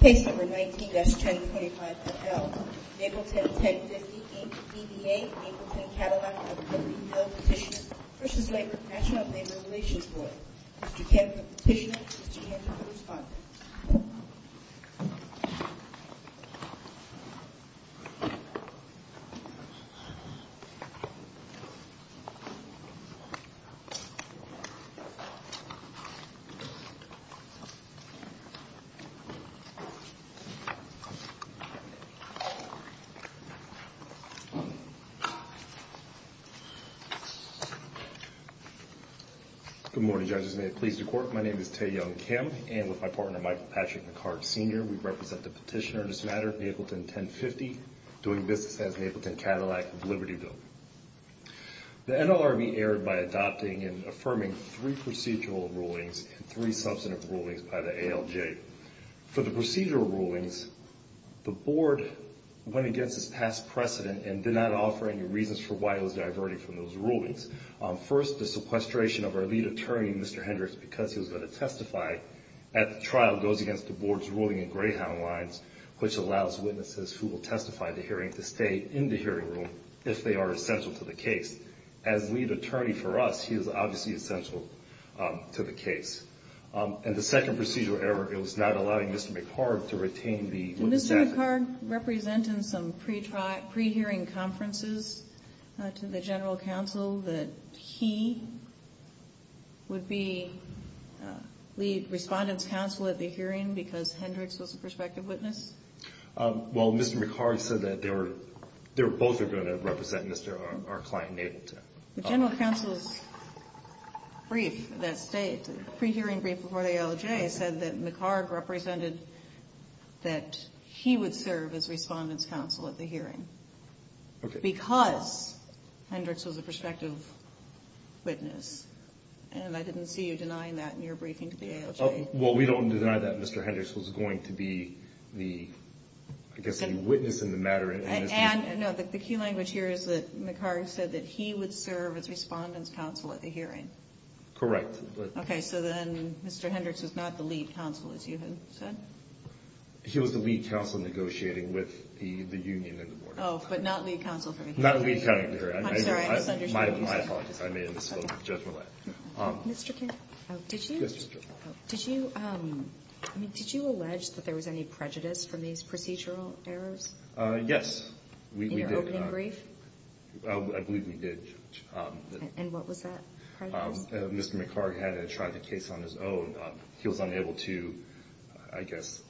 Case No. 19-1025.L, Mapleton 1050, Inc. v. D.A. Mapleton Cadillac of the 30 mil Petitioner v. Labor, National Labor Relations Board. Mr. Campbell, Petitioner. Mr. Campbell, Respondent. Good morning, Judges. May it please the Court, my name is Tae Young Kim, and with my partner, Michael Patrick McCart, Sr. We represent the Petitioner in this matter, Mapleton 1050, doing business as Mapleton Cadillac of Libertyville. The NLRB erred by adopting and affirming three procedural rulings and three substantive rulings by the ALJ. For the procedural rulings, the Board went against its past precedent and did not offer any reasons for why it was diverting from those rulings. First, the sequestration of our lead attorney, Mr. Hendricks, because he was going to testify at the trial goes against the Board's ruling in Greyhound Lines, which allows witnesses who will testify at the hearing to stay in the hearing room if they are essential to the case. As lead attorney for us, he is obviously essential to the case. And the second procedural error, it was not allowing Mr. McCart to retain the witness at the hearing. Well, Mr. McCart said that they were both going to represent our client, Mapleton. The general counsel's brief that state, pre-hearing brief before the ALJ, said that McCart represented that he would serve as Respondent's Counsel at the hearing. Okay. Because Hendricks was a prospective witness, and I didn't see you denying that in your briefing to the ALJ. Well, we don't deny that Mr. Hendricks was going to be the, I guess, the witness in the matter. And, no, the key language here is that McCart said that he would serve as Respondent's Counsel at the hearing. Correct. Okay. So then Mr. Hendricks was not the lead counsel, as you had said? He was the lead counsel negotiating with the union and the Board. Oh, but not lead counsel for the hearing. Not lead counsel for the hearing. I'm sorry, I misunderstood. My apologies. I made a mistake of judgment. Mr. Kent, did you allege that there was any prejudice from these procedural errors? Yes, we did. In your opening brief? I believe we did. And what was that prejudice? Mr. McCart had tried the case on his own. He was unable to, I guess,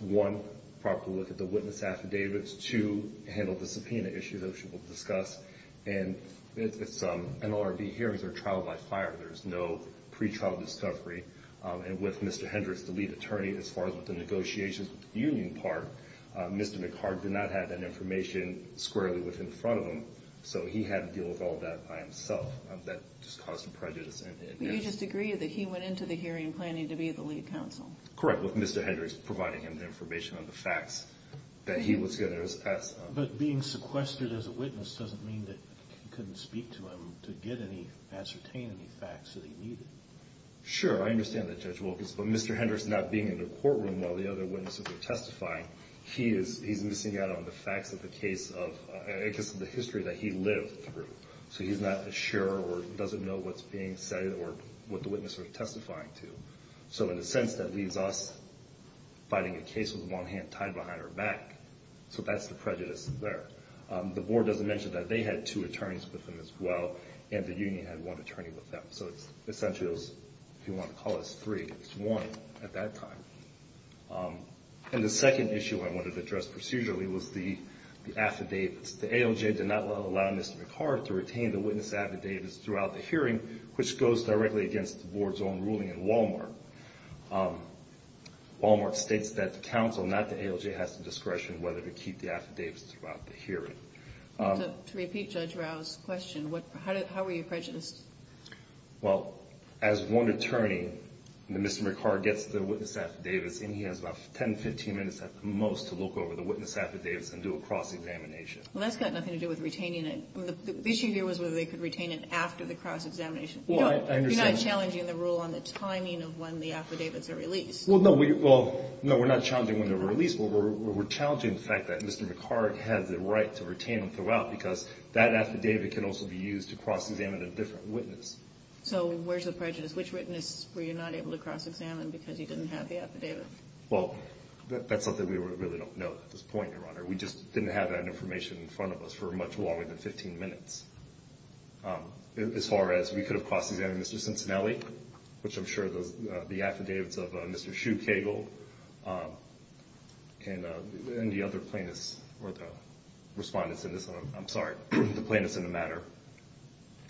one, properly look at the witness affidavits, two, handle the subpoena issue that we will discuss. And NLRB hearings are trial by fire. There's no pretrial discovery. And with Mr. Hendricks, the lead attorney, as far as the negotiations with the union part, Mr. McCart did not have that information squarely with him in front of him. So he had to deal with all that by himself. That just caused some prejudice. But you just agree that he went into the hearing planning to be the lead counsel? Correct, with Mr. Hendricks providing him the information on the facts that he was going to discuss. But being sequestered as a witness doesn't mean that you couldn't speak to him to get any, ascertain any facts that he needed. Sure, I understand that, Judge Wilkins. But Mr. Hendricks not being in the courtroom while the other witnesses were testifying, he is missing out on the facts of the case of the history that he lived through. So he's not sure or doesn't know what's being said or what the witness was testifying to. So in a sense, that leaves us fighting a case with one hand tied behind our back. So that's the prejudice there. The board doesn't mention that they had two attorneys with them as well, and the union had one attorney with them. So it's essentially, if you want to call this three, it's one at that time. And the second issue I wanted to address procedurally was the affidavits. The ALJ did not allow Mr. McCart to retain the witness affidavits throughout the hearing, which goes directly against the board's own ruling in Walmart. Walmart states that the counsel, not the ALJ, has the discretion whether to keep the affidavits throughout the hearing. To repeat Judge Rao's question, how were you prejudiced? Well, as one attorney, Mr. McCart gets the witness affidavits, and he has about 10, 15 minutes at the most to look over the witness affidavits and do a cross-examination. Well, that's got nothing to do with retaining it. The issue here was whether they could retain it after the cross-examination. You're not challenging the rule on the timing of when the affidavits are released. Well, no, we're not challenging when they're released. We're challenging the fact that Mr. McCart has the right to retain them throughout because that affidavit can also be used to cross-examine a different witness. So where's the prejudice? Which witness were you not able to cross-examine because he didn't have the affidavit? Well, that's something we really don't know at this point, Your Honor. We just didn't have that information in front of us for much longer than 15 minutes. As far as we could have cross-examined Mr. Cincinnati, which I'm sure the affidavits of Mr. Shu Cagle and the other plaintiffs or the respondents in this one, I'm sorry, the plaintiffs in the matter,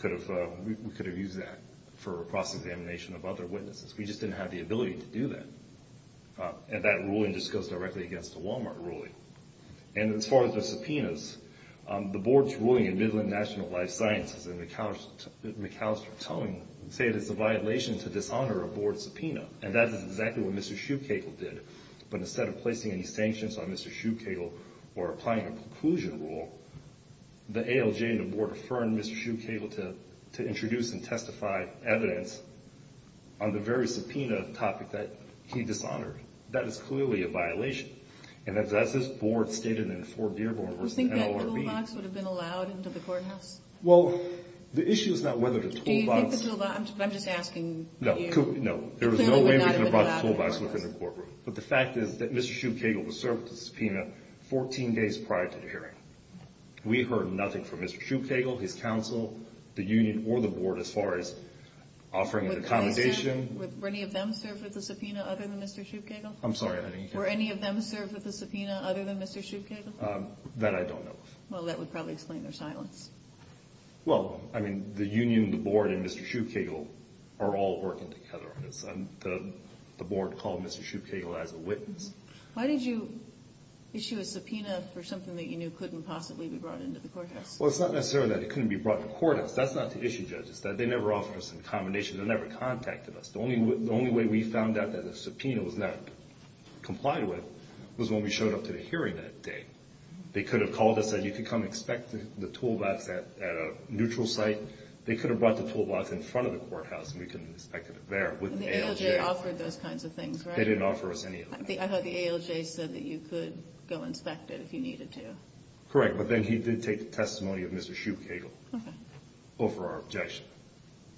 we could have used that for a cross-examination of other witnesses. We just didn't have the ability to do that. And that ruling just goes directly against the Walmart ruling. And as far as the subpoenas, the boards ruling in Midland National Life Sciences and McAllister Towing say it is a violation to dishonor a board subpoena, and that is exactly what Mr. Shu Cagle did. But instead of placing any sanctions on Mr. Shu Cagle or applying a preclusion rule, the ALJ and the board affirmed Mr. Shu Cagle to introduce and testify evidence on the very subpoena topic that he dishonored. That is clearly a violation. And as this board stated in Fort Dearborn v. NLRB— Do you think that toolbox would have been allowed into the courthouse? Well, the issue is not whether the toolbox— Do you think the toolbox—I'm just asking— No, there was no way we could have brought the toolbox within the courtroom. But the fact is that Mr. Shu Cagle was served with the subpoena 14 days prior to the hearing. We heard nothing from Mr. Shu Cagle, his counsel, the union, or the board as far as offering an accommodation. Were any of them served with the subpoena other than Mr. Shu Cagle? I'm sorry, I didn't hear. Were any of them served with the subpoena other than Mr. Shu Cagle? That I don't know of. Well, that would probably explain their silence. Well, I mean, the union, the board, and Mr. Shu Cagle are all working together on this. The board called Mr. Shu Cagle as a witness. Why did you issue a subpoena for something that you knew couldn't possibly be brought into the courthouse? Well, it's not necessarily that it couldn't be brought into the courthouse. That's not to issue judges. They never offered us an accommodation. They never contacted us. The only way we found out that the subpoena was not complied with was when we showed up to the hearing that day. They could have called us and said, you could come expect the tool box at a neutral site. They could have brought the tool box in front of the courthouse and we could have inspected it there with the ALJ. The ALJ offered those kinds of things, right? They didn't offer us any of that. I thought the ALJ said that you could go inspect it if you needed to. Correct, but then he did take the testimony of Mr. Shu Cagle over our objection.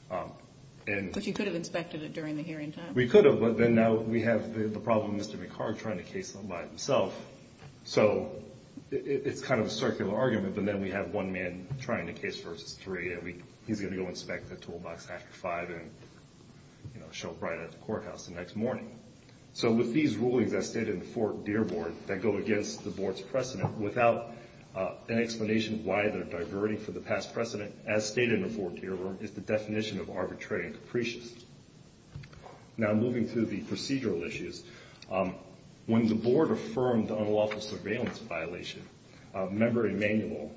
But you could have inspected it during the hearing time? We could have, but then now we have the problem of Mr. McHarg trying to case them by himself. So it's kind of a circular argument, but then we have one man trying to case versus three, and he's going to go inspect the tool box after five and show up right at the courthouse the next morning. So with these rulings as stated in the Fort Dearborn that go against the board's precedent, without an explanation of why they're diverting from the past precedent, as stated in the Fort Dearborn, is the definition of arbitrary and capricious. Now moving to the procedural issues. When the board affirmed the unlawful surveillance violation, Member Emanuel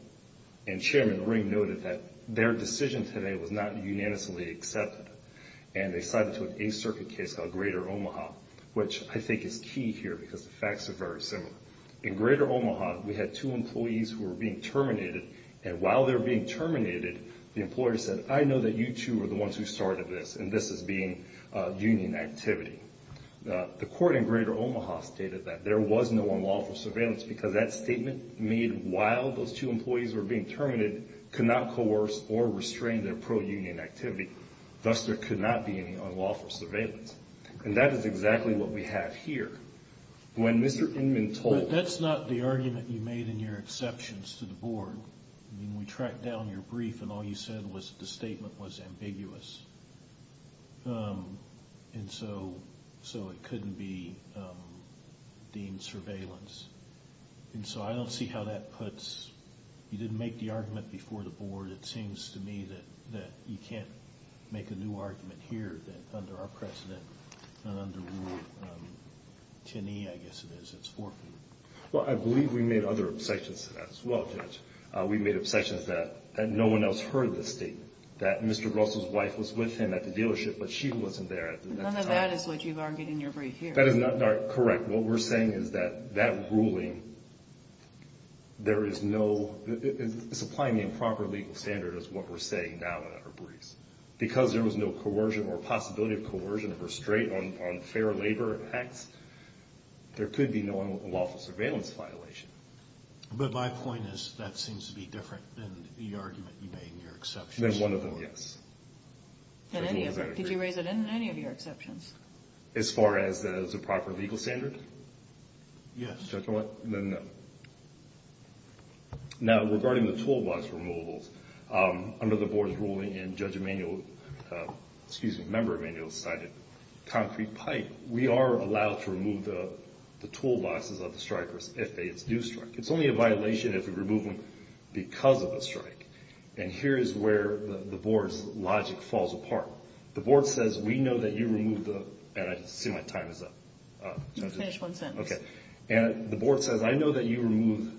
and Chairman Ring noted that their decision today was not unanimously accepted, and they cited an Eighth Circuit case called Greater Omaha, which I think is key here because the facts are very similar. In Greater Omaha, we had two employees who were being terminated, and while they were being terminated, the employer said, I know that you two are the ones who started this, and this is being union activity. The court in Greater Omaha stated that there was no unlawful surveillance because that statement made while those two employees were being terminated could not coerce or restrain their pro-union activity. Thus, there could not be any unlawful surveillance. And that is exactly what we have here. When Mr. Inman told— But that's not the argument you made in your exceptions to the board. I mean, we tracked down your brief, and all you said was the statement was ambiguous. And so it couldn't be deemed surveillance. And so I don't see how that puts—you didn't make the argument before the board. It seems to me that you can't make a new argument here, that under our precedent and under rule 10E, I guess it is, it's forfeited. Well, I believe we made other obsessions as well, Judge. We made obsessions that no one else heard the statement, that Mr. Russell's wife was with him at the dealership, but she wasn't there at the time. None of that is what you've argued in your brief here. That is not correct. What we're saying is that that ruling, there is no—it's applying the improper legal standard is what we're saying now in our briefs. Because there was no coercion or possibility of coercion or restraint on fair labor and acts, there could be no unlawful surveillance violation. But my point is that seems to be different than the argument you made in your exceptions. Than one of them, yes. Did you raise it in any of your exceptions? As far as the improper legal standard? Yes. Then no. Now, regarding the toolbox removals, under the board's ruling, and Judge Emanuel—excuse me, Member Emanuel cited concrete pipe. We are allowed to remove the toolboxes of the strikers if they do strike. It's only a violation if we remove them because of a strike. And here is where the board's logic falls apart. The board says, we know that you removed the—and I see my time is up. Finish one sentence. Okay. And the board says, I know that you removed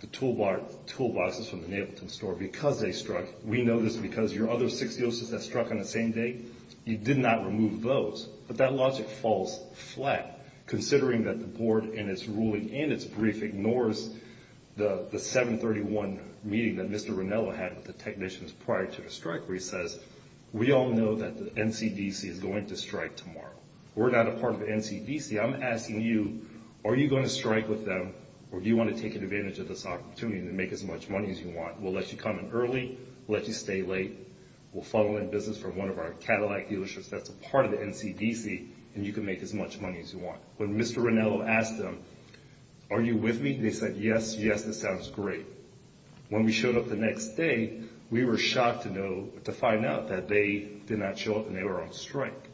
the toolboxes from the Neapolitan store because they struck. We know this because your other six uses that struck on the same day, you did not remove those. But that logic falls flat, considering that the board, in its ruling and its brief, ignores the 731 meeting that Mr. Ranello had with the technicians prior to the strike where he says, we all know that the NCDC is going to strike tomorrow. We're not a part of the NCDC. I'm asking you, are you going to strike with them, or do you want to take advantage of this opportunity to make as much money as you want? We'll let you come in early. We'll let you stay late. We'll funnel in business from one of our Cadillac dealerships that's a part of the NCDC, and you can make as much money as you want. When Mr. Ranello asked them, are you with me? They said, yes, yes, that sounds great. When we showed up the next day, we were shocked to know, to find out that they did not show up and they were on strike.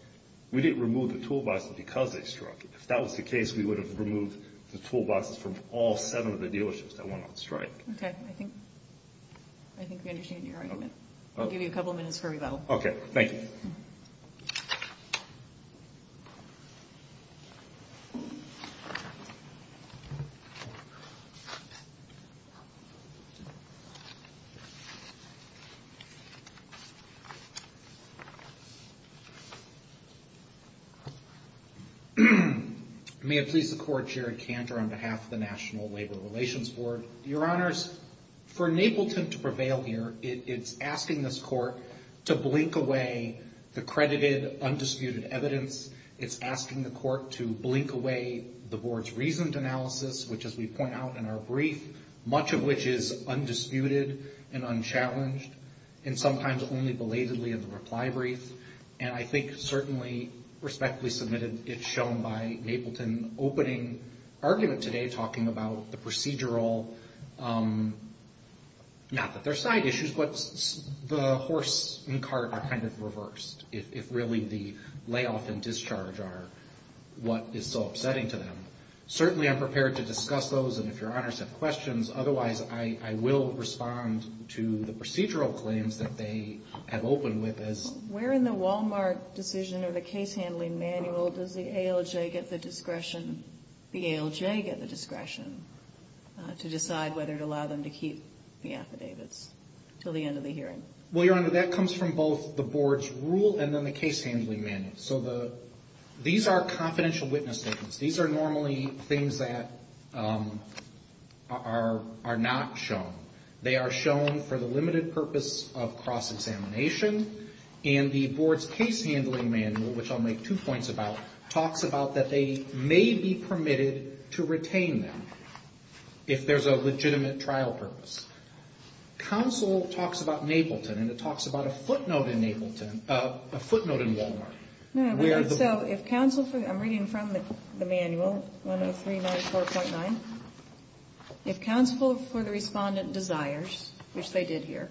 We didn't remove the toolboxes because they struck. If that was the case, we would have removed the toolboxes from all seven of the dealerships that went on strike. Okay, I think we understand your argument. I'll give you a couple minutes for rebuttal. Okay, thank you. May it please the Court, Jared Cantor, on behalf of the National Labor Relations Board. Your Honors, for Napleton to prevail here, it's asking this Court to blink away the credited, undisputed evidence. It's asking the Court to blink away the Board's reasoned analysis, which, as we point out in our brief, is undisputed and unchallenged, and sometimes only belatedly in the reply brief. And I think, certainly, respectfully submitted, it's shown by Napleton opening argument today, talking about the procedural, not that there's side issues, but the horse and cart are kind of reversed, if really the layoff and discharge are what is so upsetting to them. Certainly, I'm prepared to discuss those, and if Your Honors have questions, otherwise I will respond to the procedural claims that they have opened with. Where in the Wal-Mart decision or the case handling manual does the ALJ get the discretion to decide whether to allow them to keep the affidavits until the end of the hearing? Well, Your Honor, that comes from both the Board's rule and then the case handling manual. So these are confidential witness statements. These are normally things that are not shown. They are shown for the limited purpose of cross-examination, and the Board's case handling manual, which I'll make two points about, talks about that they may be permitted to retain them if there's a legitimate trial purpose. Counsel talks about Napleton, and it talks about a footnote in Wal-Mart. I'm reading from the manual, 103-94.9. If counsel for the respondent desires, which they did here,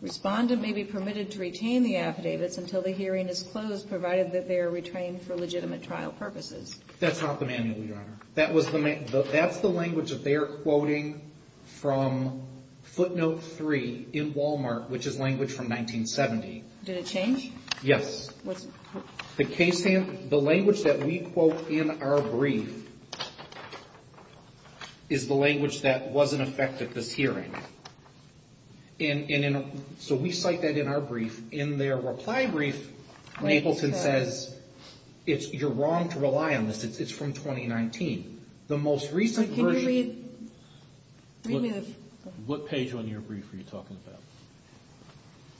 respondent may be permitted to retain the affidavits until the hearing is closed, provided that they are retained for legitimate trial purposes. That's not the manual, Your Honor. That's the language that they are quoting from footnote 3 in Wal-Mart, which is language from 1970. Did it change? Yes. The language that we quote in our brief is the language that wasn't affected this hearing. So we cite that in our brief. In their reply brief, Napleton says, you're wrong to rely on this. It's from 2019. The most recent version— Can you read— What page on your brief are you talking about?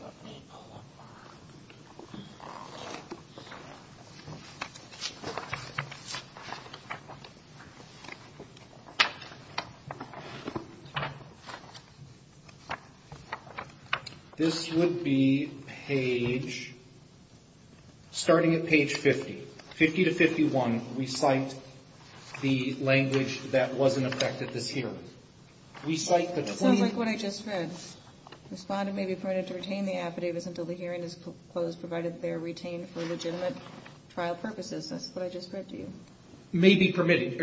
Let me pull up my— This would be page—starting at page 50. 50 to 51, we cite the language that wasn't affected this hearing. We cite the claim— Respondent may be permitted to retain the affidavits until the hearing is closed, provided that they are retained for legitimate trial purposes. That's what I just read to you. May be permitted.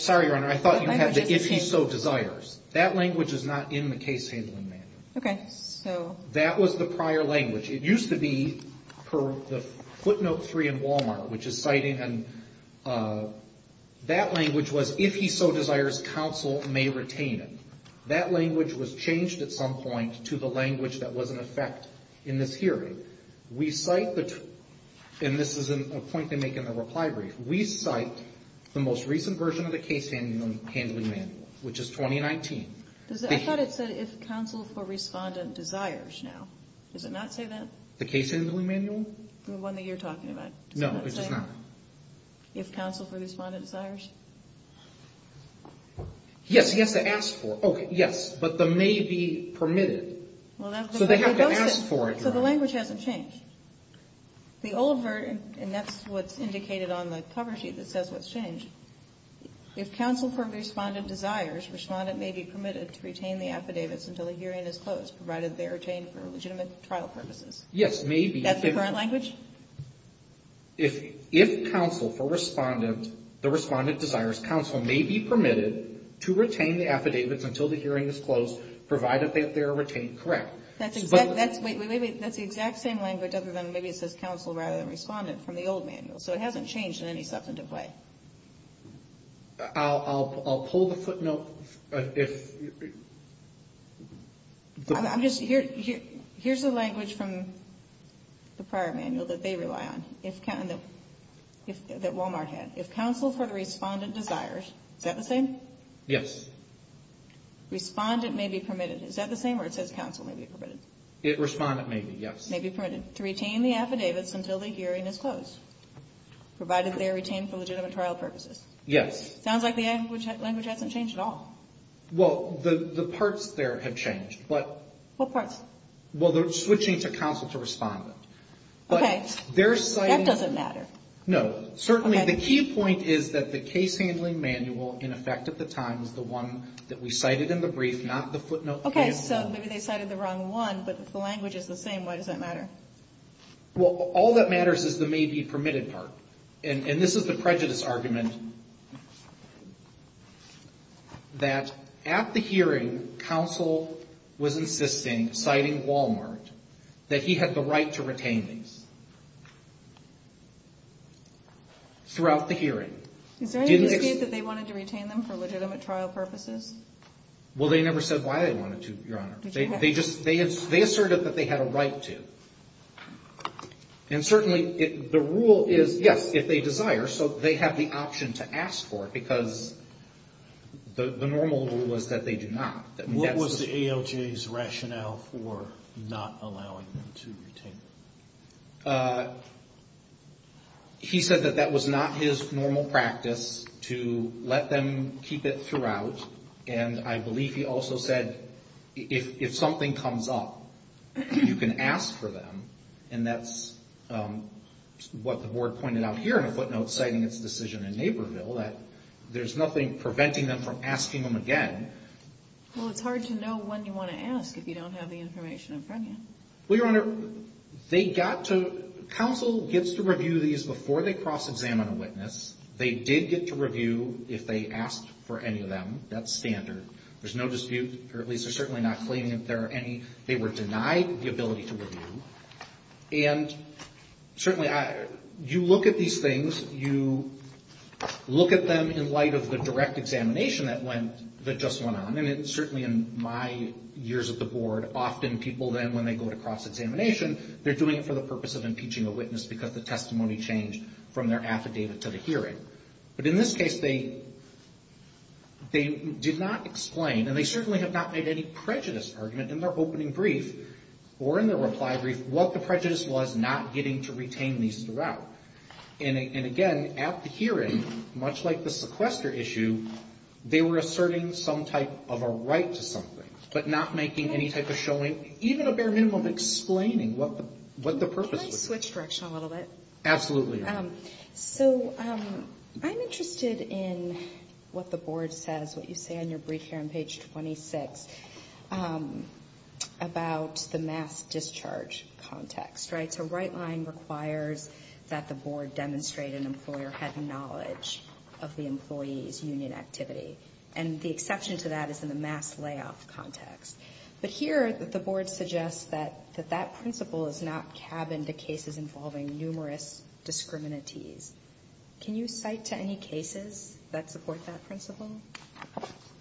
Sorry, Your Honor. I thought you had the if he so desires. That language is not in the case handling manual. Okay. So— That was the prior language. It used to be per the footnote 3 in Wal-Mart, which is citing—and that language was if he so desires, counsel may retain it. That language was changed at some point to the language that was in effect in this hearing. We cite the—and this is a point they make in the reply brief. We cite the most recent version of the case handling manual, which is 2019. I thought it said if counsel for respondent desires now. Does it not say that? The case handling manual? The one that you're talking about. No, it does not. Does it not say if counsel for respondent desires? Yes. Yes, it asks for. Okay. Yes. But the may be permitted. So they have to ask for it, Your Honor. So the language hasn't changed. The old version, and that's what's indicated on the cover sheet that says what's changed, if counsel for respondent desires, respondent may be permitted to retain the affidavits until the hearing is closed, provided they are retained for legitimate trial purposes. Yes. May be. That's the current language? If counsel for respondent, the respondent desires, counsel may be permitted to retain the affidavits until the hearing is closed, provided that they are retained correct. That's the exact same language other than maybe it says counsel rather than respondent from the old manual. So it hasn't changed in any substantive way. I'll pull the footnote. I'm just, here's the language from the prior manual that they rely on, that Wal-Mart had. If counsel for the respondent desires, is that the same? Yes. Respondent may be permitted. Is that the same where it says counsel may be permitted? Respondent may be, yes. May be permitted to retain the affidavits until the hearing is closed, provided they are retained for legitimate trial purposes. Yes. Sounds like the language hasn't changed at all. Well, the parts there have changed. What parts? Well, they're switching to counsel to respondent. Okay. That doesn't matter. No. Certainly, the key point is that the case handling manual in effect at the time is the one that we cited in the brief, not the footnote. Okay. So maybe they cited the wrong one, but if the language is the same, why does that matter? Well, all that matters is the may be permitted part. And this is the prejudice argument that at the hearing, counsel was insisting, citing Wal-Mart, that he had the right to retain these throughout the hearing. Is there any dispute that they wanted to retain them for legitimate trial purposes? Well, they never said why they wanted to, Your Honor. They asserted that they had a right to. And certainly, the rule is, yes, if they desire. So they have the option to ask for it, because the normal rule is that they do not. What was the ALJ's rationale for not allowing them to retain them? He said that that was not his normal practice, to let them keep it throughout. And I believe he also said, if something comes up, you can ask for them. And that's what the board pointed out here in a footnote citing its decision in Naperville, that there's nothing preventing them from asking them again. Well, it's hard to know when you want to ask if you don't have the information in front of you. Well, Your Honor, they got to, counsel gets to review these before they cross-examine a witness. They did get to review if they asked for any of them. That's standard. There's no dispute, or at least they're certainly not claiming that there are any. They were denied the ability to review. And certainly, you look at these things, you look at them in light of the direct examination that just went on. And certainly, in my years at the board, often people then, when they go to cross-examination, they're doing it for the purpose of impeaching a witness because the testimony changed from their affidavit to the hearing. But in this case, they did not explain, and they certainly have not made any prejudice argument in their opening brief or in their reply brief, what the prejudice was not getting to retain these throughout. And again, at the hearing, much like the sequester issue, they were asserting some type of a right to something, but not making any type of showing, even a bare minimum of explaining what the purpose was. Can I switch direction a little bit? Absolutely. So, I'm interested in what the board says, what you say in your brief here on page 26, about the mass discharge context, right? So, right-lying requires that the board demonstrate an employer had knowledge of the employee's union activity. And the exception to that is in the mass layoff context. But here, the board suggests that that principle is not cabined to cases involving numerous discriminaties. Can you cite to any cases that support that principle?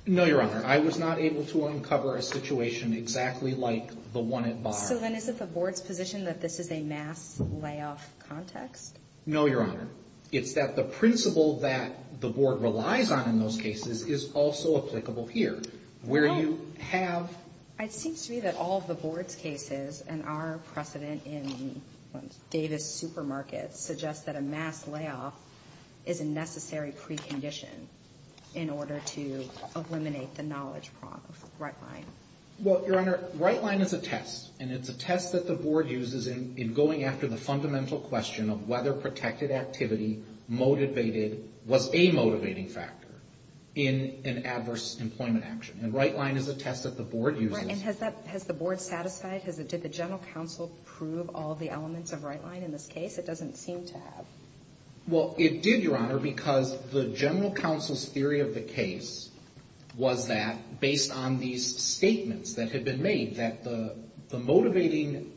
No, Your Honor. I was not able to uncover a situation exactly like the one at Barr. So, then, is it the board's position that this is a mass layoff context? No, Your Honor. It's that the principle that the board relies on in those cases is also applicable here, where you have... It seems to me that all of the board's cases and our precedent in Davis supermarkets suggest that a mass layoff is a necessary precondition in order to eliminate the knowledge problem of right-lying. Well, Your Honor, right-lying is a test. And it's a test that the board uses in going after the fundamental question of whether protected activity was a motivating factor in an adverse employment action. And right-lying is a test that the board uses. Right. And has the board satisfied? Did the general counsel prove all of the elements of right-lying in this case? It doesn't seem to have. Well, it did, Your Honor, because the general counsel's theory of the case was that, based on these statements that had been made, that the motivating,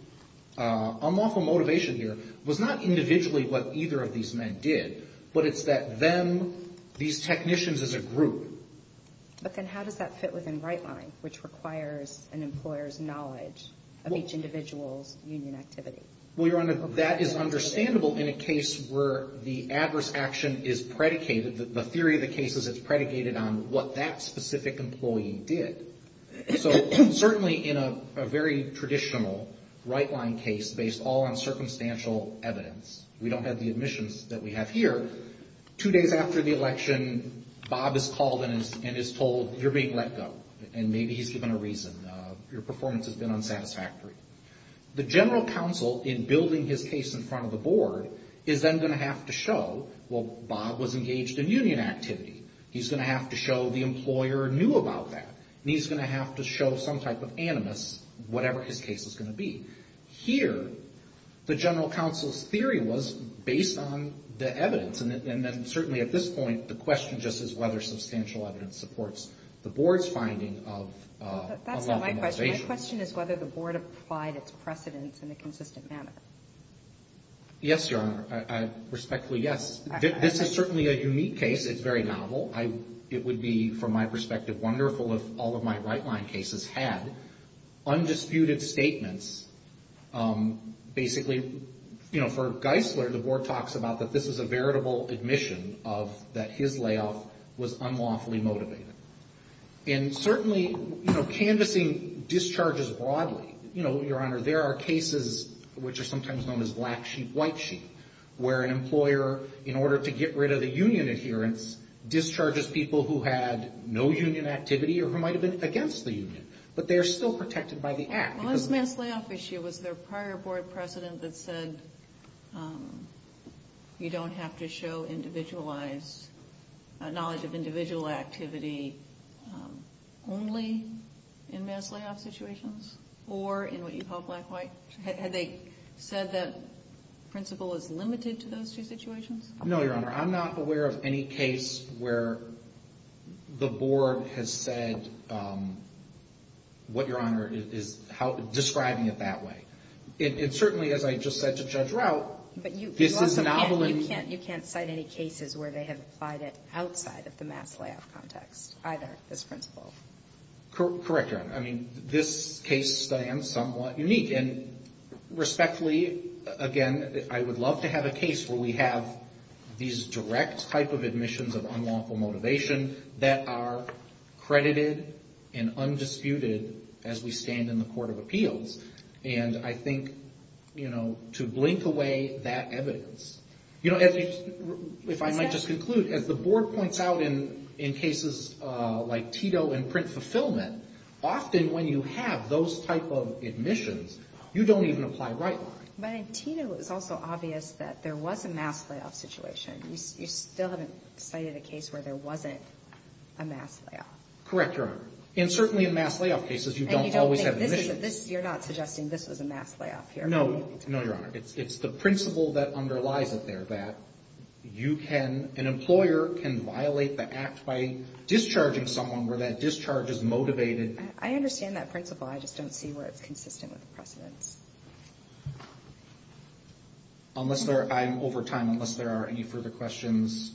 unlawful motivation here was not individually what either of these men did, but it's that them, these technicians as a group... But then how does that fit within right-lying, which requires an employer's knowledge of each individual's union activity? Well, Your Honor, that is understandable in a case where the adverse action is predicated, the theory of the case is it's predicated on what that specific employee did. So certainly in a very traditional right-lying case based all on circumstantial evidence, we don't have the admissions that we have here. Two days after the election, Bob is called and is told, you're being let go, and maybe he's given a reason. Your performance has been unsatisfactory. The general counsel, in building his case in front of the board, is then going to have to show, well, Bob was engaged in union activity. He's going to have to show the employer knew about that, and he's going to have to show some type of animus, whatever his case is going to be. Here, the general counsel's theory was based on the evidence. And then certainly at this point, the question just is whether substantial evidence supports the board's finding of unlawful motivation. That's not my question. My question is whether the board applied its precedents in a consistent manner. Yes, Your Honor, I respectfully, yes. This is certainly a unique case. It's very novel. It would be, from my perspective, wonderful if all of my right-line cases had undisputed statements. Basically, you know, for Geisler, the board talks about that this is a veritable admission of that his layoff was unlawfully motivated. And certainly, you know, canvassing discharges broadly. You know, Your Honor, there are cases which are sometimes known as black sheep, white sheep, where an employer, in order to get rid of the union adherence, discharges people who had no union activity or who might have been against the union. But they are still protected by the act. Well, this mass layoff issue, was there a prior board precedent that said you don't have to show individualized, knowledge of individual activity only in mass layoff situations? Or in what you call black-white? Had they said the principle is limited to those two situations? No, Your Honor. I'm not aware of any case where the board has said what Your Honor is describing it that way. It certainly, as I just said to Judge Routt, this is novel in the way that it is described. You can't cite any cases where they have applied it outside of the mass layoff context, either, this principle. Correct, Your Honor. I mean, this case stands somewhat unique. And respectfully, again, I would love to have a case where we have these direct type of admissions of unlawful motivation that are credited and undisputed as we stand in the Court of Appeals. And I think, you know, to blink away that evidence. You know, if I might just conclude, as the board points out in cases like Tito and Print Fulfillment, often when you have those type of admissions, you don't even apply right-line. But in Tito, it was also obvious that there was a mass layoff situation. You still haven't cited a case where there wasn't a mass layoff. Correct, Your Honor. And certainly in mass layoff cases, you don't always have admissions. And you don't think this is a – you're not suggesting this was a mass layoff here? No, Your Honor. It's the principle that underlies it there, that you can – an employer can violate the act by discharging someone where that discharge is motivated. I understand that principle. I just don't see where it's consistent with the precedents. Unless there – I'm over time. Unless there are any further questions.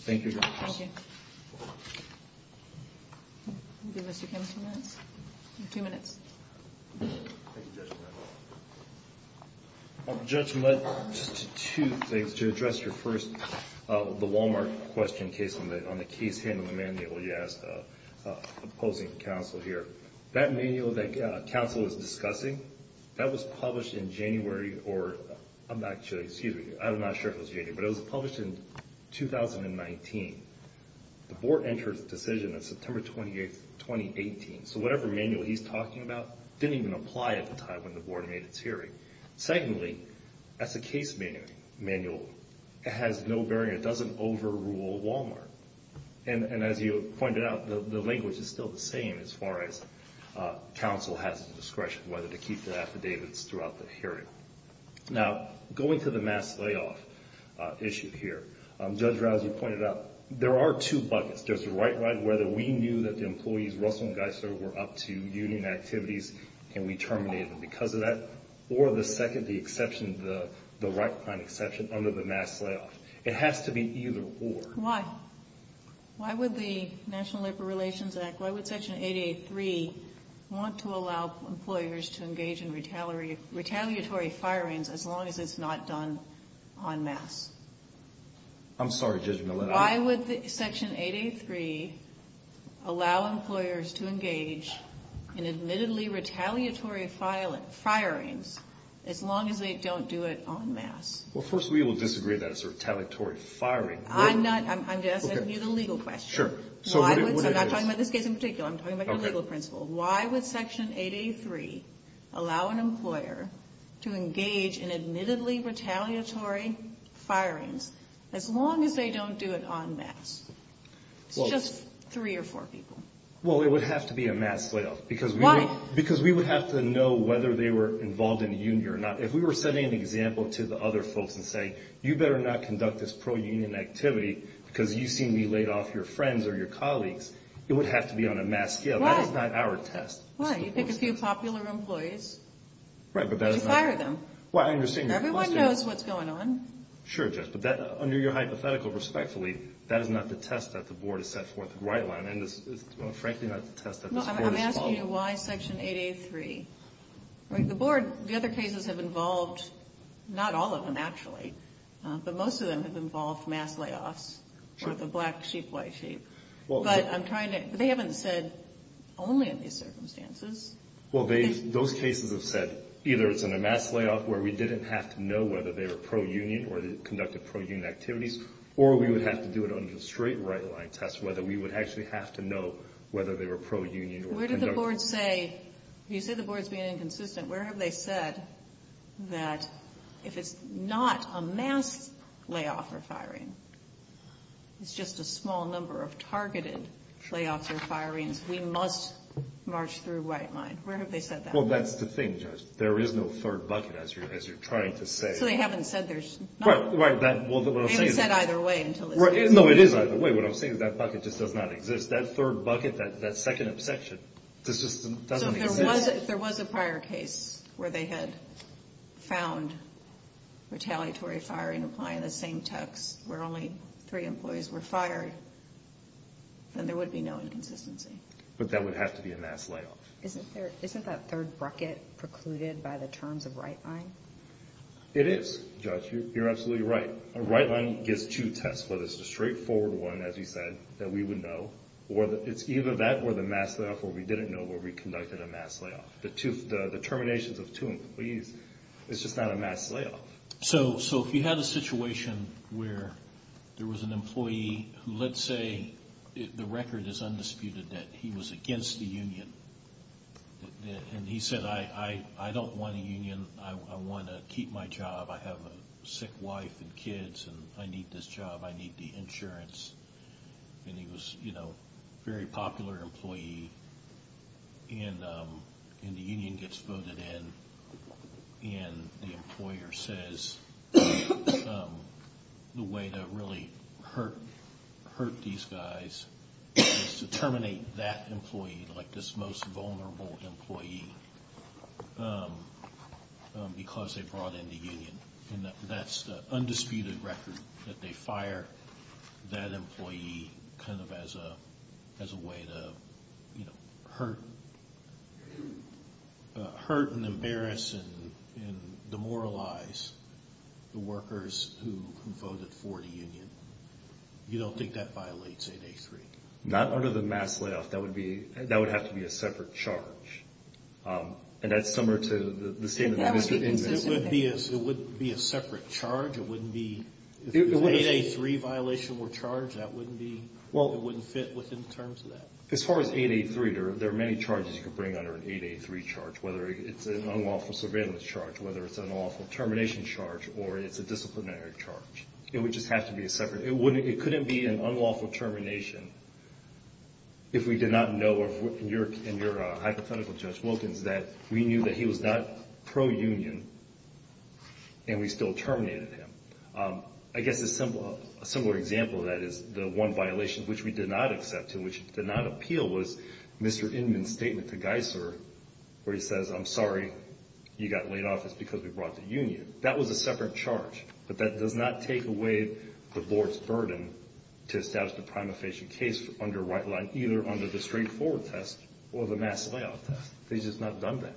Thank you, Your Honor. Thank you. Mr. Kim, two minutes. Two minutes. Thank you, Judge Millett. Judge Millett, just two things. To address your first – the Walmart question case on the case handling manual you asked opposing counsel here. That manual that counsel was discussing, that was published in January or – I'm not sure. Excuse me. I'm not sure if it was January. But it was published in 2019. The board entered its decision on September 28th, 2018. So whatever manual he's talking about didn't even apply at the time when the board made its hearing. Secondly, as a case manual, it has no bearing. It doesn't overrule Walmart. And as you pointed out, the language is still the same as far as counsel has the discretion whether to keep the affidavits throughout the hearing. Now, going to the mass layoff issue here, Judge Rouse, you pointed out there are two buckets. There's the right-right, whether we knew that the employees, Russell and Geisler, were up to union activities and we terminated them because of that. Or the second, the exception, the right-client exception under the mass layoff. It has to be either or. Why? Why would the National Labor Relations Act, why would Section 88.3 want to allow employers to engage in retaliatory firings as long as it's not done en masse? I'm sorry, Judge Millett. Why would Section 88.3 allow employers to engage in admittedly retaliatory firings as long as they don't do it en masse? Well, first, we will disagree that it's a retaliatory firing. I'm asking you the legal question. Sure. I'm not talking about this case in particular. I'm talking about the legal principle. Why would Section 88.3 allow an employer to engage in admittedly retaliatory firings as long as they don't do it en masse? It's just three or four people. Well, it would have to be a mass layoff. Why? Because we would have to know whether they were involved in a union or not. If we were setting an example to the other folks and saying, you better not conduct this pro-union activity because you've seen me laid off your friends or your colleagues, it would have to be on a mass scale. Why? So that is not our test. Why? You pick a few popular employees. Right, but that is not. You fire them. Well, I understand your question. Everyone knows what's going on. Sure, Judge. But under your hypothetical, respectfully, that is not the test that the Board has set forth in the white line. And it's frankly not the test that this Court has followed. No, I'm asking you why Section 88.3. The Board, the other cases have involved not all of them, actually, but most of them have involved mass layoffs. Sure. Or the black sheep, white sheep. But I'm trying to, they haven't said only in these circumstances. Well, those cases have said either it's in a mass layoff where we didn't have to know whether they were pro-union or conducted pro-union activities, or we would have to do it under the straight right line test, whether we would actually have to know whether they were pro-union or conducted. Where did the Board say, you say the Board is being inconsistent. Where have they said that if it's not a mass layoff or firing, it's just a small number of targeted layoffs or firings, we must march through white line. Where have they said that? Well, that's the thing, Judge. There is no third bucket, as you're trying to say. So they haven't said there's none. Right. Well, what I'm saying is that. They haven't said either way until this case. No, it is either way. What I'm saying is that bucket just does not exist. That third bucket, that second obsection, this just doesn't exist. If there was a prior case where they had found retaliatory firing applying the same text, where only three employees were fired, then there would be no inconsistency. But that would have to be a mass layoff. Isn't that third bucket precluded by the terms of right line? It is, Judge. You're absolutely right. A right line gives two tests, whether it's a straightforward one, as you said, that we would know, or it's either that or the mass layoff where we didn't know where we conducted a mass layoff. The terminations of two employees is just not a mass layoff. So if you had a situation where there was an employee who, let's say, the record is undisputed that he was against the union, and he said, I don't want a union, I want to keep my job, I have a sick wife and kids, and I need this job, I need the insurance. And he was a very popular employee, and the union gets voted in, and the employer says the way to really hurt these guys is to terminate that employee, like this most vulnerable employee, because they brought in the union. And that's the undisputed record, that they fire that employee kind of as a way to, you know, hurt and embarrass and demoralize the workers who voted for the union. You don't think that violates 8A3? Not under the mass layoff. That would have to be a separate charge. And that's similar to the statement by Mr. Ingram. It wouldn't be a separate charge? If an 8A3 violation were charged, that wouldn't fit within the terms of that? As far as 8A3, there are many charges you could bring under an 8A3 charge, whether it's an unlawful surveillance charge, whether it's an unlawful termination charge, or it's a disciplinary charge. It would just have to be separate. It couldn't be an unlawful termination if we did not know, in your hypothetical, Judge Wilkins, that we knew that he was not pro-union and we still terminated him. I guess a similar example of that is the one violation which we did not accept and which did not appeal was Mr. Inman's statement to Geiser where he says, I'm sorry, you got laid off. It's because we brought the union. That was a separate charge. But that does not take away the board's burden to establish the prima facie case under white line, either under the straightforward test or the mass layoff test. They just have not done that.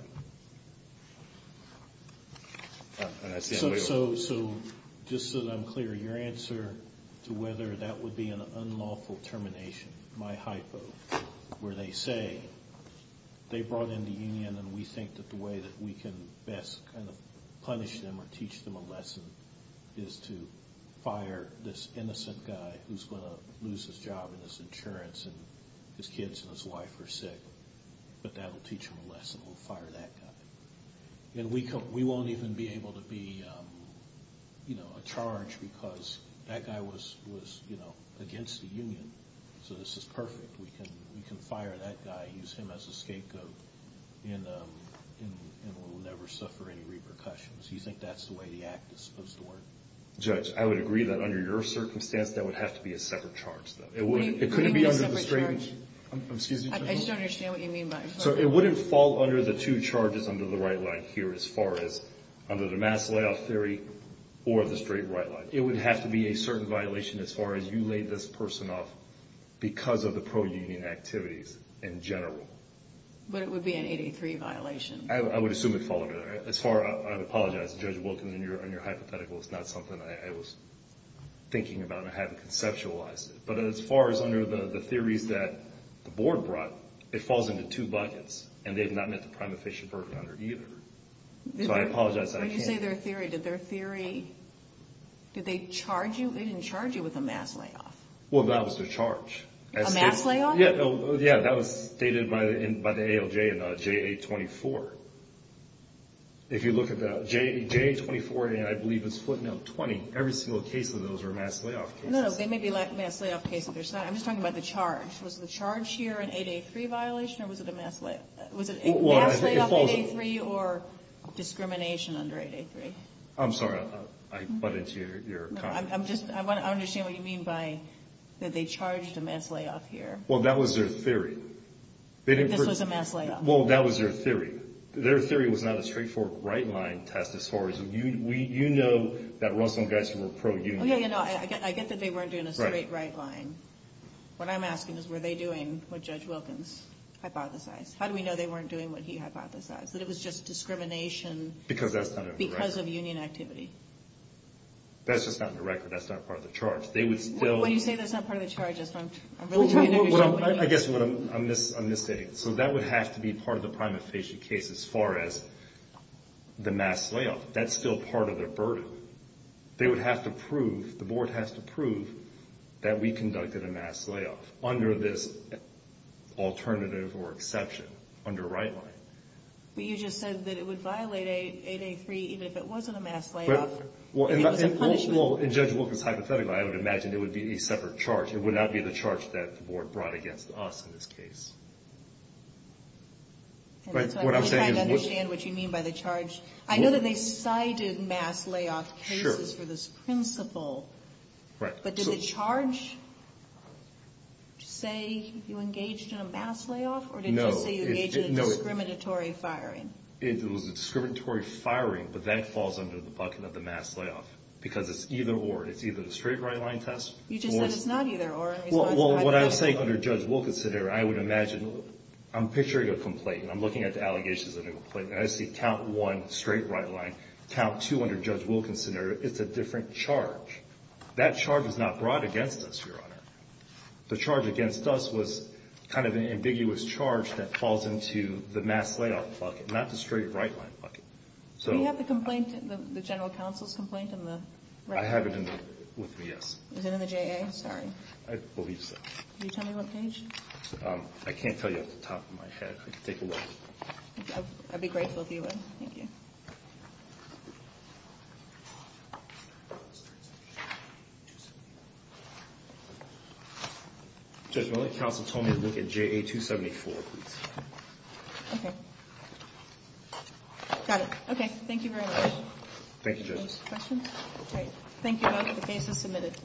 So just so that I'm clear, your answer to whether that would be an unlawful termination, my hypo, where they say they brought in the union and we think that the way that we can best kind of punish them or teach them a lesson is to fire this innocent guy who's going to lose his job and his insurance and his kids and his wife are sick. But that will teach them a lesson. We'll fire that guy. And we won't even be able to be, you know, a charge because that guy was, you know, against the union. So this is perfect. We can fire that guy, use him as a scapegoat, and we'll never suffer any repercussions. Do you think that's the way the act is supposed to work? Judge, I would agree that under your circumstance that would have to be a separate charge. It couldn't be under the straight line. I just don't understand what you mean by a separate charge. So it wouldn't fall under the two charges under the right line here as far as under the mass layoff theory or the straight right line. It would have to be a certain violation as far as you laid this person off because of the pro-union activities in general. But it would be an 83 violation. I would assume it would fall under that. As far as I apologize, Judge Wilkins, in your hypothetical, it's not something I was thinking about. I haven't conceptualized it. But as far as under the theories that the board brought, it falls into two buckets, and they've not met the prima facie burden on her either. So I apologize that I can't. When you say their theory, did their theory, did they charge you? They didn't charge you with a mass layoff. Well, that was their charge. A mass layoff? Yeah, that was stated by the ALJ in JA-24. If you look at that, JA-24, I believe it's footnote 20. Every single case of those are mass layoff cases. No, they may be mass layoff cases. I'm just talking about the charge. Was the charge here an 8A3 violation or was it a mass layoff? Was it a mass layoff 8A3 or discrimination under 8A3? I'm sorry. I butted into your comment. I'm just, I want to understand what you mean by that they charged a mass layoff here. Well, that was their theory. This was a mass layoff. Well, that was their theory. Their theory was not a straightforward right-line test as far as, you know that Russell and Geist were pro-union. I get that they weren't doing a straight right-line. What I'm asking is were they doing what Judge Wilkins hypothesized? How do we know they weren't doing what he hypothesized, that it was just discrimination because of union activity? That's just not in the record. That's not part of the charge. When you say that's not part of the charge, I guess I'm misstating it. So that would have to be part of the prima facie case as far as the mass layoff. That's still part of their burden. They would have to prove, the Board has to prove that we conducted a mass layoff under this alternative or exception under right-line. But you just said that it would violate 8A3 even if it wasn't a mass layoff. Well, in Judge Wilkins' hypothetical, I would imagine it would be a separate charge. It would not be the charge that the Board brought against us in this case. And that's why I'm trying to understand what you mean by the charge. I know that they cited mass layoff cases for this principle. But did the charge say you engaged in a mass layoff? Or did it just say you engaged in a discriminatory firing? It was a discriminatory firing, but that falls under the bucket of the mass layoff because it's either or. It's either the straight right-line test or Well, what I'm saying under Judge Wilkins' scenario, I would imagine, I'm picturing a complaint, and I'm looking at the allegations of a complaint, and I see count one, straight right-line, count two under Judge Wilkins' scenario, it's a different charge. That charge was not brought against us, Your Honor. The charge against us was kind of an ambiguous charge that falls into the mass layoff bucket, not the straight right-line bucket. Do you have the complaint, the general counsel's complaint in the right-line? I have it with me, yes. Is it in the JA? Sorry. I believe so. Can you tell me what page? I can't tell you off the top of my head. I can take a look. I'd be grateful if you would. Thank you. Judge, my counsel told me to look at JA 274, please. Okay. Got it. Okay. Thank you very much. Thank you, Judge. Any questions? Okay. Thank you all. The case is submitted.